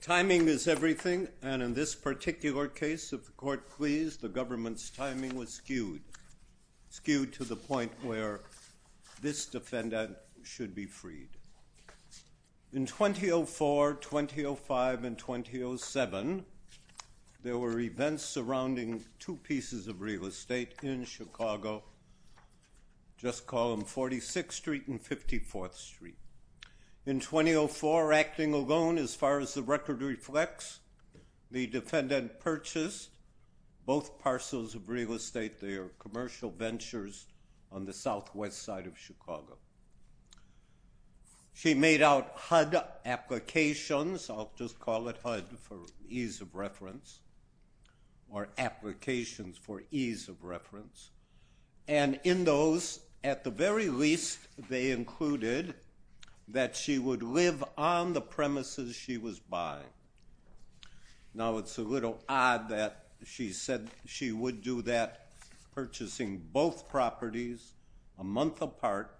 Timing is everything, and in this particular case, if the Court please, the government's where this defendant should be freed. In 2004, 2005, and 2007, there were events surrounding two pieces of real estate in Chicago, just call them 46th Street and 54th Street. In 2004, acting alone, as far as the record reflects, the defendant purchased both parcels of real estate, their commercial ventures, on the southwest side of Chicago. She made out HUD applications, I'll just call it HUD for ease of reference, or applications for ease of reference, and in those, at the very least, they included that she would live on the premises she was buying. Now, it's a little odd that she said she would do that, purchasing both properties a month apart,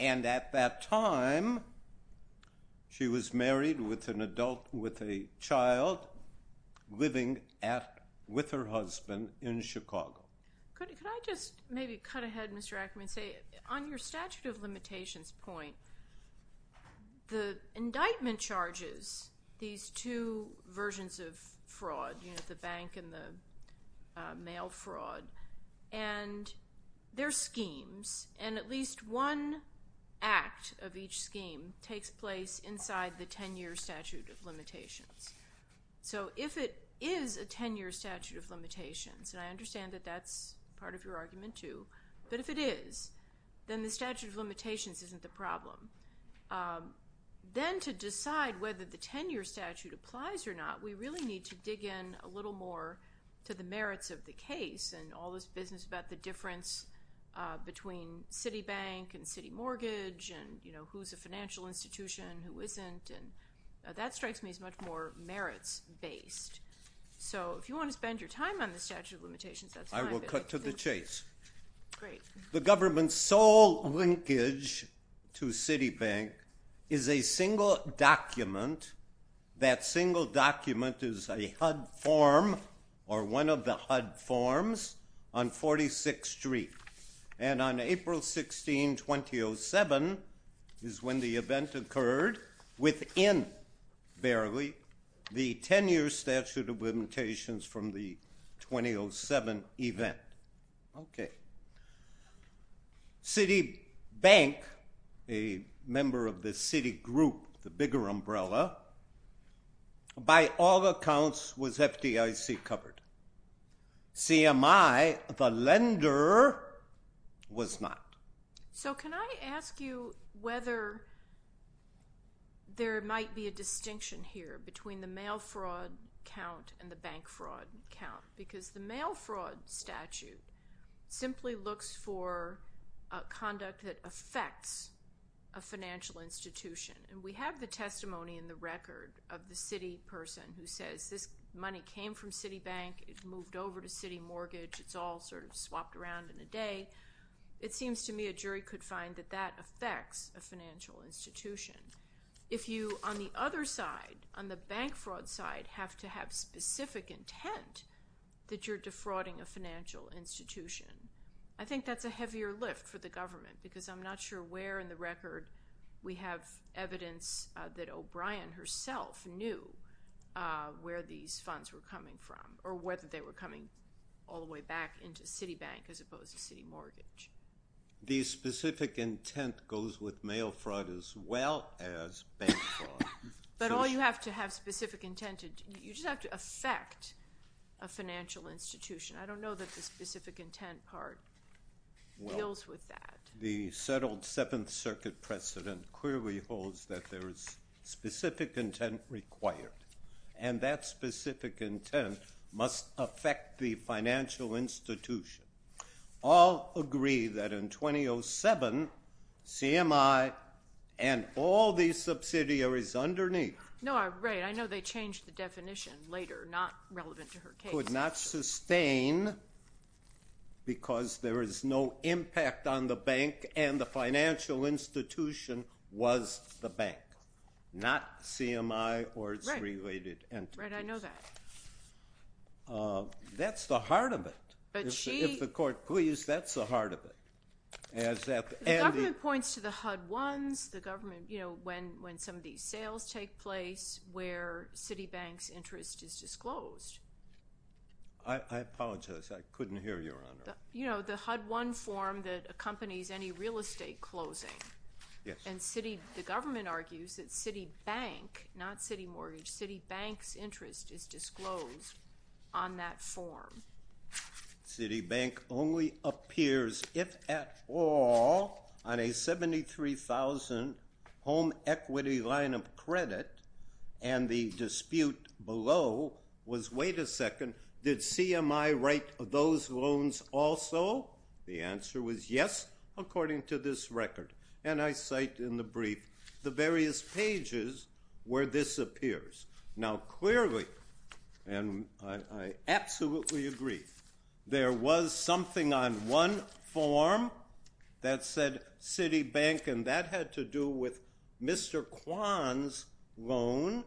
and at that time, she was married with an adult, with a child, living with her husband in Chicago. Could I just maybe cut ahead, Mr. Ackerman, and say, on your statute of limitations point, the indictment charges these two versions of fraud, the bank and the mail fraud, and they're schemes, and at least one act of each scheme takes place inside the 10-year statute of limitations. So if it is a 10-year statute of limitations, and I understand that that's part of your argument, too, but if it is, then the statute of limitations isn't the problem. Then, to decide whether the 10-year statute applies or not, we really need to dig in a little more to the merits of the case, and all this business about the difference between Citibank and City Mortgage, and who's a financial institution, who isn't, and that strikes me as much more merits-based. So if you want to spend your time on the subject, I will cut to the chase. The government's sole linkage to Citibank is a single document. That single document is a HUD form, or one of the HUD forms, on 46th Street, and on April 16, 2007, is when the event Okay. Citibank, a member of the Citigroup, the bigger umbrella, by all accounts was FDIC-covered. CMI, the lender, was not. So can I ask you whether there might be a distinction here between the mail fraud count and the bank fraud count? Because the mail fraud statute simply looks for conduct that affects a financial institution, and we have the testimony in the record of the city person who says this money came from Citibank, it moved over to City Mortgage, it's all sort of swapped around in a day. It seems to me a jury could find that that affects a financial institution. If you, on the other side, on the bank fraud side, have to have specific intent that you're defrauding a financial institution, I think that's a heavier lift for the government, because I'm not sure where in the record we have evidence that O'Brien herself knew where these funds were coming from, or whether they were coming all the way back into Citibank as opposed to City Mortgage. The specific intent goes with mail fraud as well as bank fraud. But all you have to have specific intent, you just have to affect a financial institution. I don't know that the specific intent part deals with that. The settled Seventh Circuit precedent clearly holds that there is specific intent required, and that specific intent must affect the financial institution. All agree that in 2007, CMI and all these subsidiaries underneath... No, right, I know they changed the definition later, not relevant to her case. ...could not sustain because there is no impact on the bank and the financial institution was the bank, not CMI or its related entities. Right, I know that. That's the heart of it. But she... If the court please, that's the heart of it. The government points to the HUD-1s, the government, you know, when some of these sales take place where Citibank's interest is disclosed. I apologize, I couldn't hear you, Your Honor. You know, the HUD-1 form that accompanies any real estate closing. Yes. And the government argues that Citibank, not Citimortgage, Citibank's interest is disclosed on that form. Citibank only appears, if at all, on a $73,000 home equity line of credit, and the dispute below was, wait a second, did CMI write those loans also? The answer was yes, according to this record. And I cite in the brief the various pages where this appears. Now, clearly, and I absolutely agree, there was something on one form that said Citibank, and that had to do with Mr. Kwan's loan,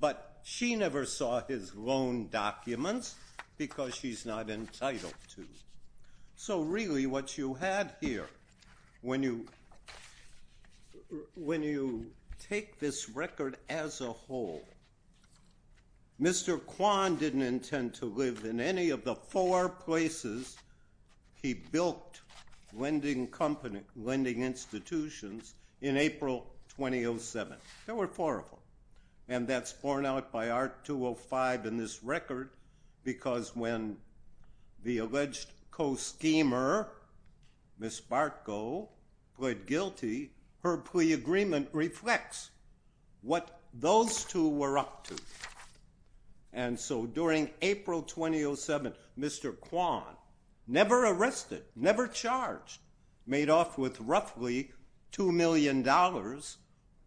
but she never saw his loan documents because she's not entitled to. So really what you had here, when you take this record as a whole, Mr. Kwan didn't intend to live in any of the four places he built lending institutions in April 2007. There were four of them. And that's borne out by Art. 205 in this record because when the alleged co-schemer, Ms. Bartko, pled guilty, her plea agreement reflects what those two were up to. And so during April 2007, Mr. Kwan, never arrested, never charged, made off with roughly $2 million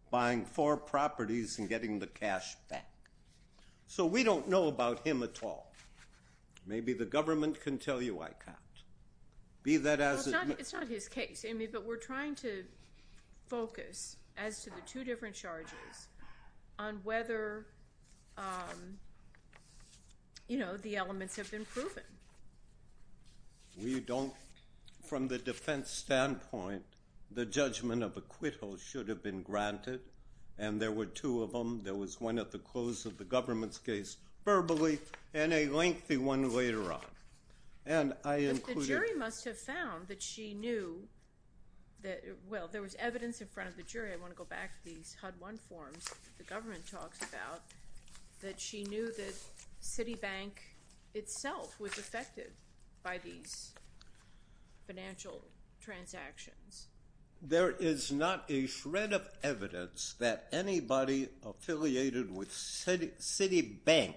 buying four properties and getting the cash back. So we don't know about him at all. Maybe the government can tell you I can't. It's not his case, Amy, but we're trying to focus, as to the two different charges, on whether, you know, the elements have been proven. We don't, from the defense standpoint, the judgment of acquittal should have been granted, and there were two of them. There was one at the close of the government's case verbally and a lengthy one later on. And I included – But the jury must have found that she knew that – well, there was evidence in front of the jury. I want to go back to these HUD-1 forms that the government talks about, that she knew that Citibank itself was affected by these financial transactions. There is not a shred of evidence that anybody affiliated with Citibank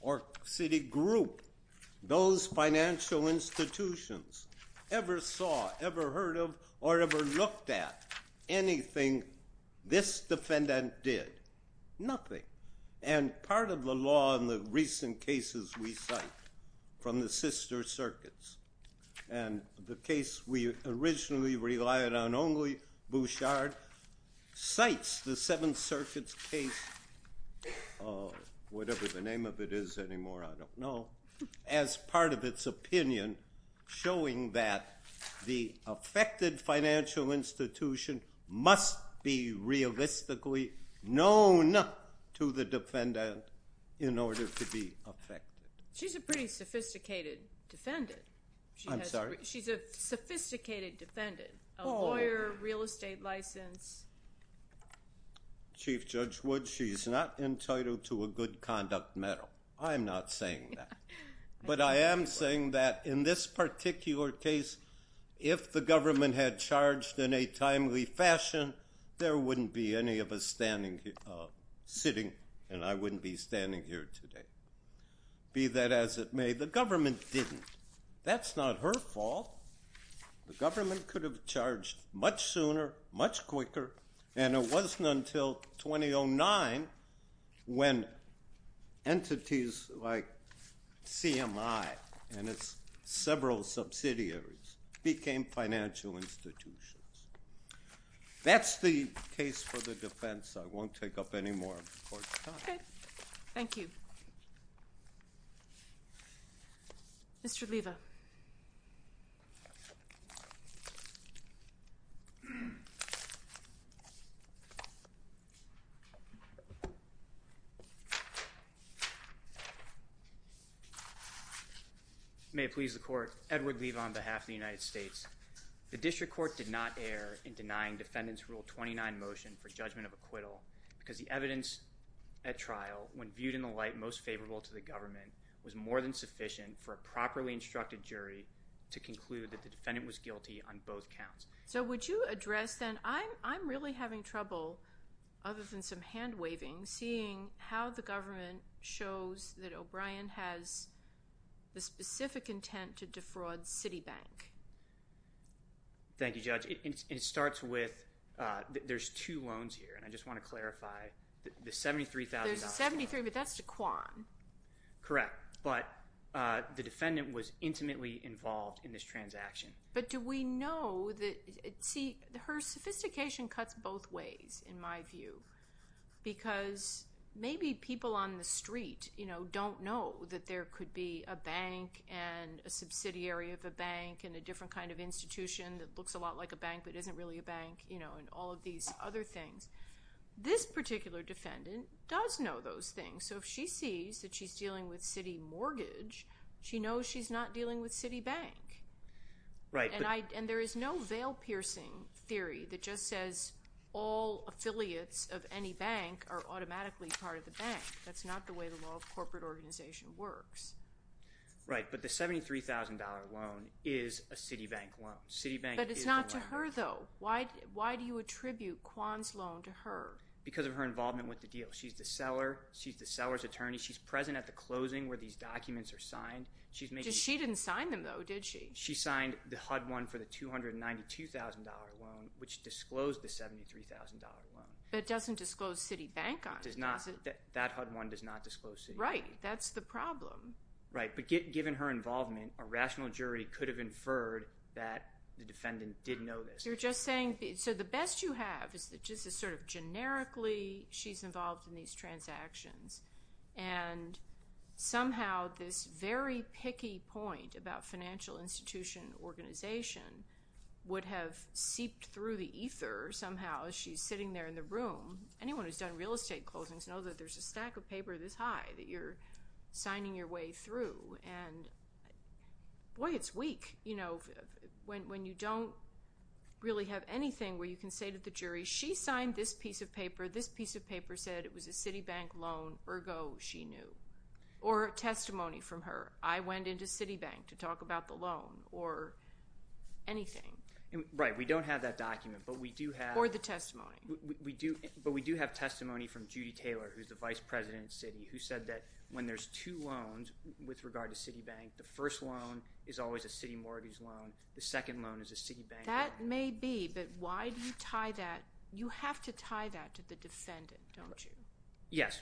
or Citigroup, those financial institutions, ever saw, ever heard of, or ever looked at anything this defendant did. Nothing. And part of the law in the recent cases we cite from the sister circuits, and the case we originally relied on only, Bouchard, cites the Seventh Circuit's case, whatever the name of it is anymore, I don't know, as part of its opinion showing that the affected financial institution must be realistically known to the defendant in order to be affected. She's a pretty sophisticated defendant. I'm sorry? She's a sophisticated defendant, a lawyer, real estate license. Chief Judge Wood, she's not entitled to a good conduct medal. I'm not saying that. But I am saying that in this particular case, if the government had charged in a timely fashion, there wouldn't be any of us sitting, and I wouldn't be standing here today. Be that as it may, the government didn't. That's not her fault. The government could have charged much sooner, much quicker, and it wasn't until 2009 when entities like CMI and its several subsidiaries became financial institutions. That's the case for the defense. I won't take up any more of the Court's time. Okay. Thank you. Thank you. Mr. Leva. May it please the Court, Edward Leva on behalf of the United States. The District Court did not err in denying Defendant's Rule 29 motion for judgment of acquittal because the evidence at trial, when viewed in the light most favorable to the government, was more than sufficient for a properly instructed jury to conclude that the defendant was guilty on both counts. So would you address then, I'm really having trouble, other than some hand-waving, seeing how the government shows that O'Brien has the specific intent to defraud Citibank. Thank you, Judge. It starts with, there's two loans here, and I just want to clarify the $73,000. There's a $73,000, but that's the Kwan. Correct. But the defendant was intimately involved in this transaction. But do we know that, see, her sophistication cuts both ways in my view because maybe people on the street don't know that there could be a bank that looks a lot like a bank but isn't really a bank and all of these other things. This particular defendant does know those things. So if she sees that she's dealing with Citibank, she knows she's not dealing with Citibank. And there is no veil-piercing theory that just says all affiliates of any bank are automatically part of the bank. That's not the way the law of corporate organization works. Right, but the $73,000 loan is a Citibank loan. But it's not to her, though. Why do you attribute Kwan's loan to her? Because of her involvement with the deal. She's the seller. She's the seller's attorney. She's present at the closing where these documents are signed. She didn't sign them, though, did she? She signed the HUD one for the $292,000 loan, which disclosed the $73,000 loan. But it doesn't disclose Citibank on it, does it? That HUD one does not disclose Citibank. Right, that's the problem. Right, but given her involvement, a rational jury could have inferred that the defendant didn't know this. You're just saying, so the best you have is that just sort of generically she's involved in these transactions. And somehow this very picky point about financial institution organization would have seeped through the ether somehow as she's sitting there in the room. Anyone who's done real estate closings knows that there's a stack of paper this high that you're signing your way through. And, boy, it's weak, you know, when you don't really have anything where you can say to the jury, she signed this piece of paper, this piece of paper said it was a Citibank loan, ergo she knew. Or a testimony from her. I went into Citibank to talk about the loan or anything. Right, we don't have that document, but we do have— Or the testimony. We do, but we do have testimony from Judy Taylor, who's the vice president of Citi, who said that when there's two loans with regard to Citibank, the first loan is always a Citimortgues loan, the second loan is a Citibank loan. That may be, but why do you tie that? You have to tie that to the defendant, don't you? Yes,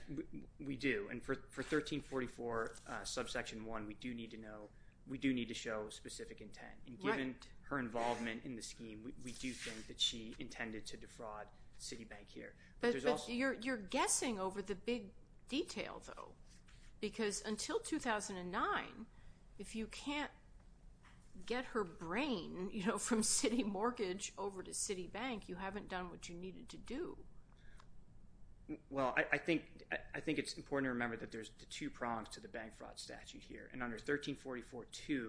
we do. And for 1344 subsection 1, we do need to know, we do need to show specific intent. And given her involvement in the scheme, we do think that she intended to defraud Citibank here. But you're guessing over the big detail, though. Because until 2009, if you can't get her brain, you know, from Citimortgage over to Citibank, you haven't done what you needed to do. Well, I think it's important to remember that there's the two prongs to the bank fraud statute here. And under 1344.2,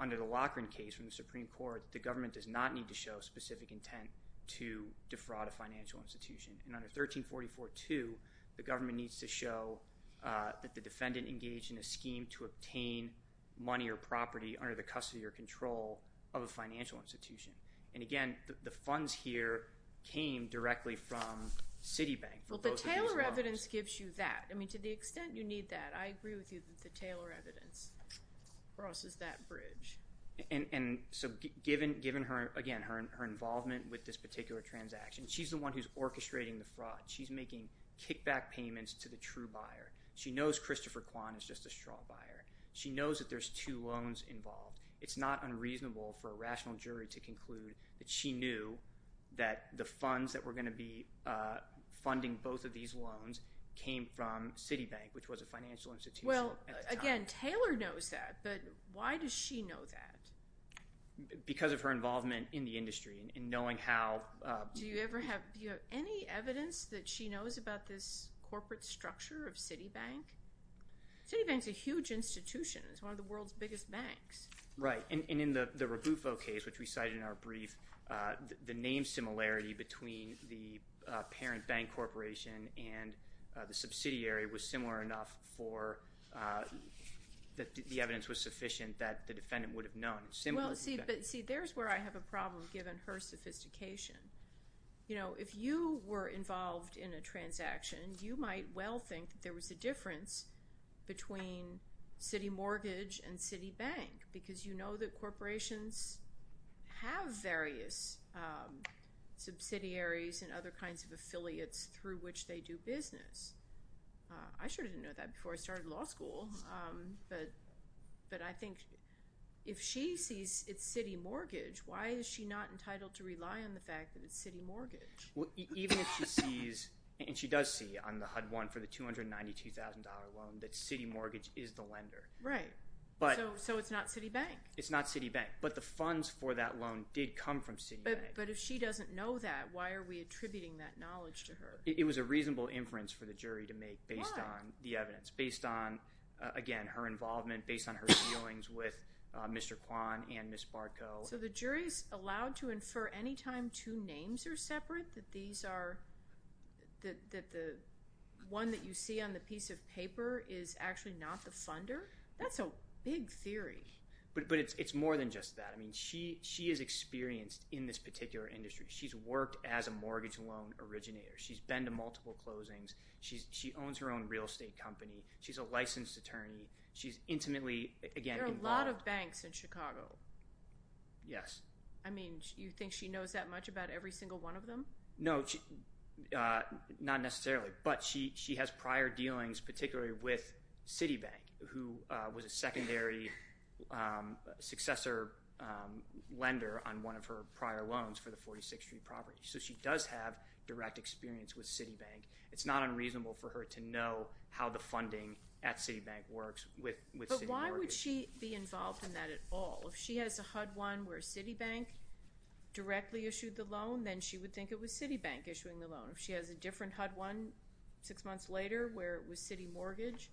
under the Loughran case from the Supreme Court, the government does not need to show specific intent to defraud a financial institution. And under 1344.2, the government needs to show that the defendant engaged in a scheme to obtain money or property under the custody or control of a financial institution. And, again, the funds here came directly from Citibank for both of these loans. Well, the Taylor evidence gives you that. I mean, to the extent you need that, I agree with you that the Taylor evidence crosses that bridge. And so, given her, again, her involvement with this particular transaction, she's the one who's orchestrating the fraud. She's making kickback payments to the true buyer. She knows Christopher Kwan is just a straw buyer. She knows that there's two loans involved. It's not unreasonable for a rational jury to conclude that she knew that the funds that were going to be funding both of these loans came from Citibank, which was a financial institution at the time. Well, again, Taylor knows that. But why does she know that? Because of her involvement in the industry and knowing how. Do you have any evidence that she knows about this corporate structure of Citibank? Citibank's a huge institution. It's one of the world's biggest banks. Right. And in the Rabufo case, which we cited in our brief, the name similarity between the parent bank corporation and the subsidiary was similar enough for the evidence was sufficient that the defendant would have known. Well, see, there's where I have a problem given her sophistication. You know, if you were involved in a transaction, you might well think that there was a difference between Citimortgage and Citibank because you know that corporations have various subsidiaries and other kinds of affiliates through which they do business. I sure didn't know that before I started law school. But I think if she sees it's Citimortgage, why is she not entitled to rely on the fact that it's Citimortgage? Even if she sees, and she does see on the HUD-1 for the $292,000 loan, that Citimortgage is the lender. Right. So it's not Citibank? It's not Citibank. But the funds for that loan did come from Citibank. But if she doesn't know that, why are we attributing that knowledge to her? It was a reasonable inference for the jury to make based on the evidence, based on, again, her involvement, based on her feelings with Mr. Kwan and Ms. Barco. So the jury is allowed to infer any time two names are separate, that the one that you see on the piece of paper is actually not the funder? That's a big theory. But it's more than just that. I mean, she is experienced in this particular industry. She's worked as a mortgage loan originator. She's been to multiple closings. She owns her own real estate company. She's a licensed attorney. She's intimately, again, involved. There are a lot of banks in Chicago. Yes. I mean, you think she knows that much about every single one of them? No, not necessarily. But she has prior dealings, particularly with Citibank, who was a secondary successor lender on one of her prior loans for the 46th Street property. So she does have direct experience with Citibank. It's not unreasonable for her to know how the funding at Citibank works with city mortgage. But why would she be involved in that at all? If she has a HUD-1 where Citibank directly issued the loan, then she would think it was Citibank issuing the loan. If she has a different HUD-1 six months later where it was city mortgage,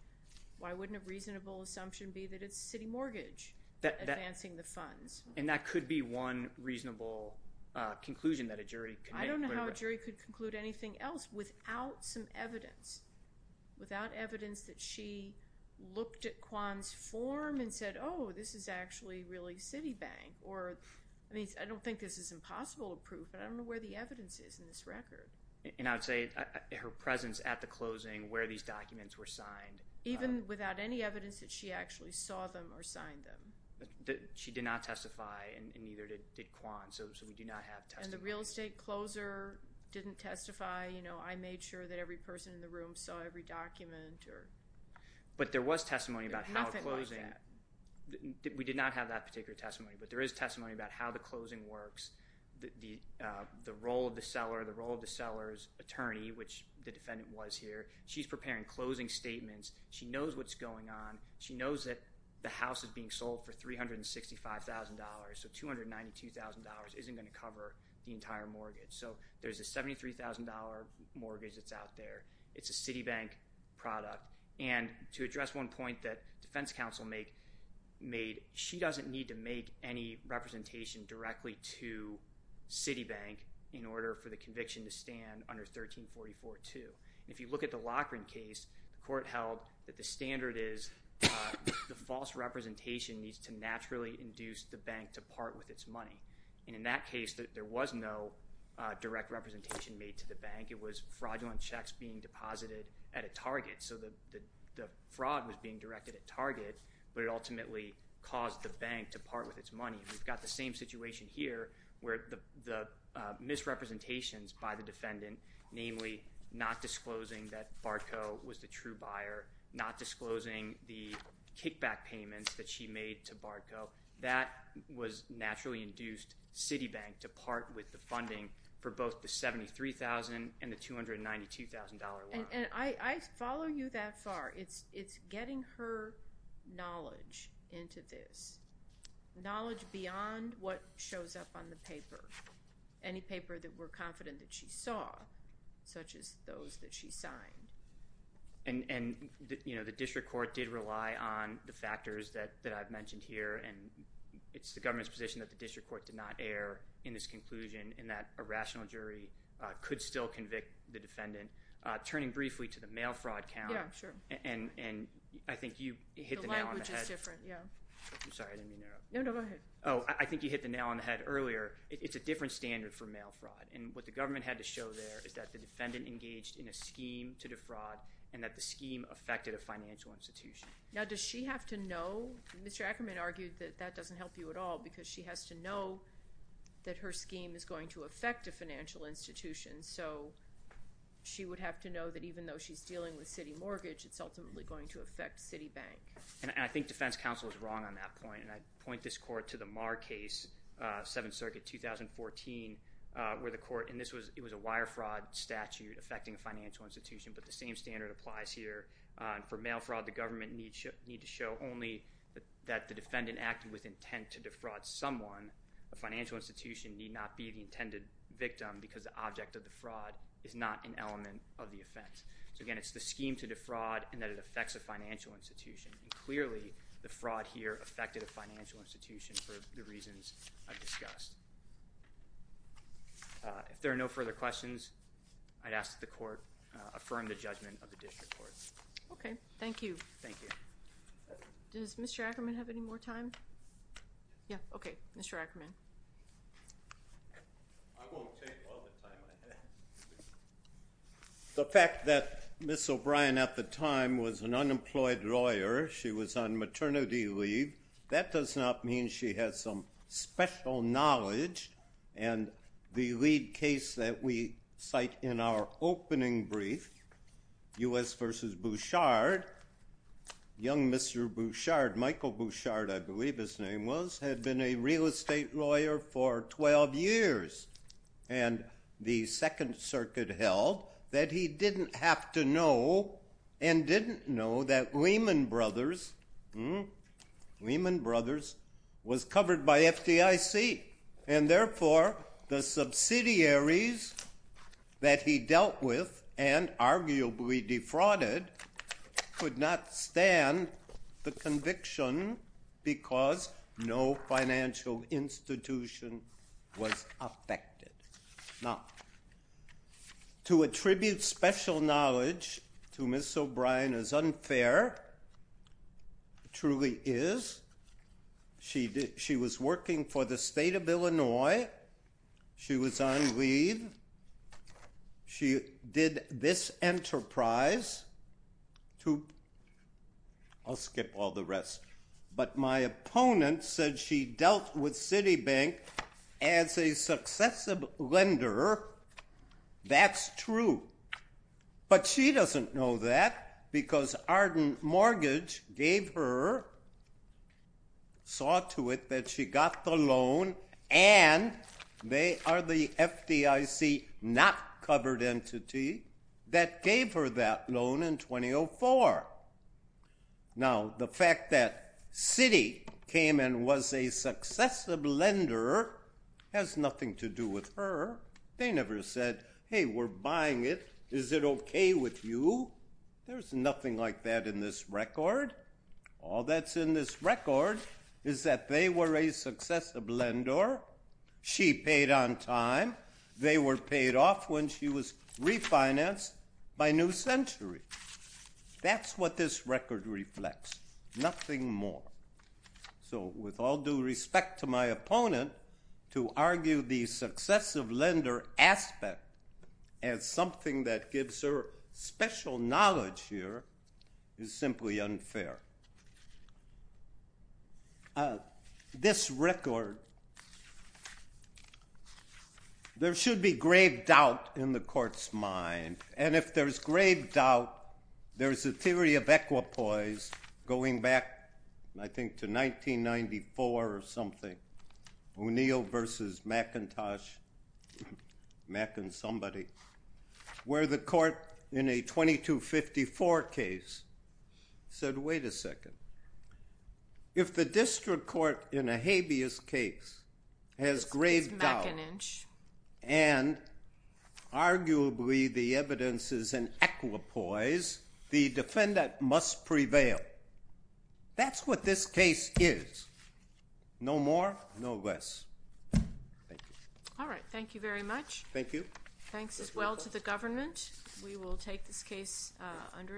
why wouldn't a reasonable assumption be that it's city mortgage advancing the funds? And that could be one reasonable conclusion that a jury could make. I don't know how a jury could conclude anything else without some evidence, without evidence that she looked at Kwan's form and said, oh, this is actually really Citibank. I don't think this is impossible to prove, but I don't know where the evidence is in this record. And I would say her presence at the closing, where these documents were signed. Even without any evidence that she actually saw them or signed them. She did not testify, and neither did Kwan, so we do not have testimony. And the real estate closer didn't testify. I made sure that every person in the room saw every document. But there was testimony about how closing. We did not have that particular testimony, but there is testimony about how the closing works, the role of the seller, the role of the seller's attorney, which the defendant was here. She's preparing closing statements. She knows what's going on. She knows that the house is being sold for $365,000, so $292,000 isn't going to cover the entire mortgage. So there's a $73,000 mortgage that's out there. It's a Citibank product. And to address one point that defense counsel made, she doesn't need to make any representation directly to Citibank in order for the conviction to stand under 1344-2. If you look at the Loughran case, the court held that the standard is the false representation needs to naturally induce the bank to part with its money. And in that case, there was no direct representation made to the bank. It was fraudulent checks being deposited at a target. So the fraud was being directed at target, but it ultimately caused the bank to part with its money. We've got the same situation here where the misrepresentations by the defendant, namely not disclosing that Barco was the true buyer, not disclosing the kickback payments that she made to Barco, that was naturally induced Citibank to part with the funding for both the $73,000 and the $292,000 loan. And I follow you that far. It's getting her knowledge into this, knowledge beyond what shows up on the paper, any paper that we're confident that she saw, such as those that she signed. And, you know, the district court did rely on the factors that I've mentioned here, and it's the government's position that the district court did not err in this conclusion and that a rational jury could still convict the defendant. Turning briefly to the mail fraud count. Yeah, sure. And I think you hit the nail on the head. The language is different, yeah. I'm sorry, I didn't mean to interrupt. No, no, go ahead. Oh, I think you hit the nail on the head earlier. It's a different standard for mail fraud. And what the government had to show there is that the defendant engaged in a scheme to defraud and that the scheme affected a financial institution. Now, does she have to know? Mr. Ackerman argued that that doesn't help you at all because she has to know that her scheme is going to affect a financial institution. So she would have to know that even though she's dealing with city mortgage, it's ultimately going to affect Citibank. And I think defense counsel is wrong on that point, and I'd point this court to the Marr case, 7th Circuit, 2014, where the court, and this was a wire fraud statute affecting a financial institution, but the same standard applies here. For mail fraud, the government needs to show only that the defendant acted with intent to defraud someone, a financial institution need not be the intended victim because the object of the fraud is not an element of the offense. So, again, it's the scheme to defraud and that it affects a financial institution. Clearly, the fraud here affected a financial institution for the reasons I've discussed. If there are no further questions, I'd ask that the court affirm the judgment of the district court. Okay, thank you. Thank you. Does Mr. Ackerman have any more time? Yeah, okay, Mr. Ackerman. I won't take all the time I have. The fact that Ms. O'Brien at the time was an unemployed lawyer, she was on maternity leave, that does not mean she has some special knowledge, and the lead case that we cite in our opening brief, U.S. v. Bouchard, young Mr. Bouchard, Michael Bouchard, I believe his name was, had been a real estate lawyer for 12 years, and the Second Circuit held that he didn't have to know and didn't know that Lehman Brothers was covered by FDIC, and therefore the subsidiaries that he dealt with and arguably defrauded could not stand the conviction because no financial institution was affected. Now, to attribute special knowledge to Ms. O'Brien as unfair truly is. She was working for the state of Illinois. She was on leave. She did this enterprise to, I'll skip all the rest, but my opponent said she dealt with Citibank as a successive lender. That's true, but she doesn't know that because Arden Mortgage gave her, saw to it that she got the loan, and they are the FDIC not covered entity that gave her that loan in 2004. Now, the fact that Citi came and was a successive lender has nothing to do with her. They never said, hey, we're buying it. Is it okay with you? There's nothing like that in this record. All that's in this record is that they were a successive lender. She paid on time. They were paid off when she was refinanced by New Century. That's what this record reflects, nothing more. So with all due respect to my opponent, to argue the successive lender aspect as something that gives her special knowledge here is simply unfair. This record, there should be grave doubt in the court's mind, and if there's grave doubt, there's a theory of equipoise going back, I think, to 1994 or something, O'Neill versus McIntosh, Mac and somebody, where the court in a 2254 case said, wait a second, if the district court in a habeas case has grave doubt and arguably the evidence is in equipoise, the defendant must prevail. That's what this case is. No more, no less. Thank you. All right, thank you very much. Thank you. Thanks as well to the government. We will take this case under advisement.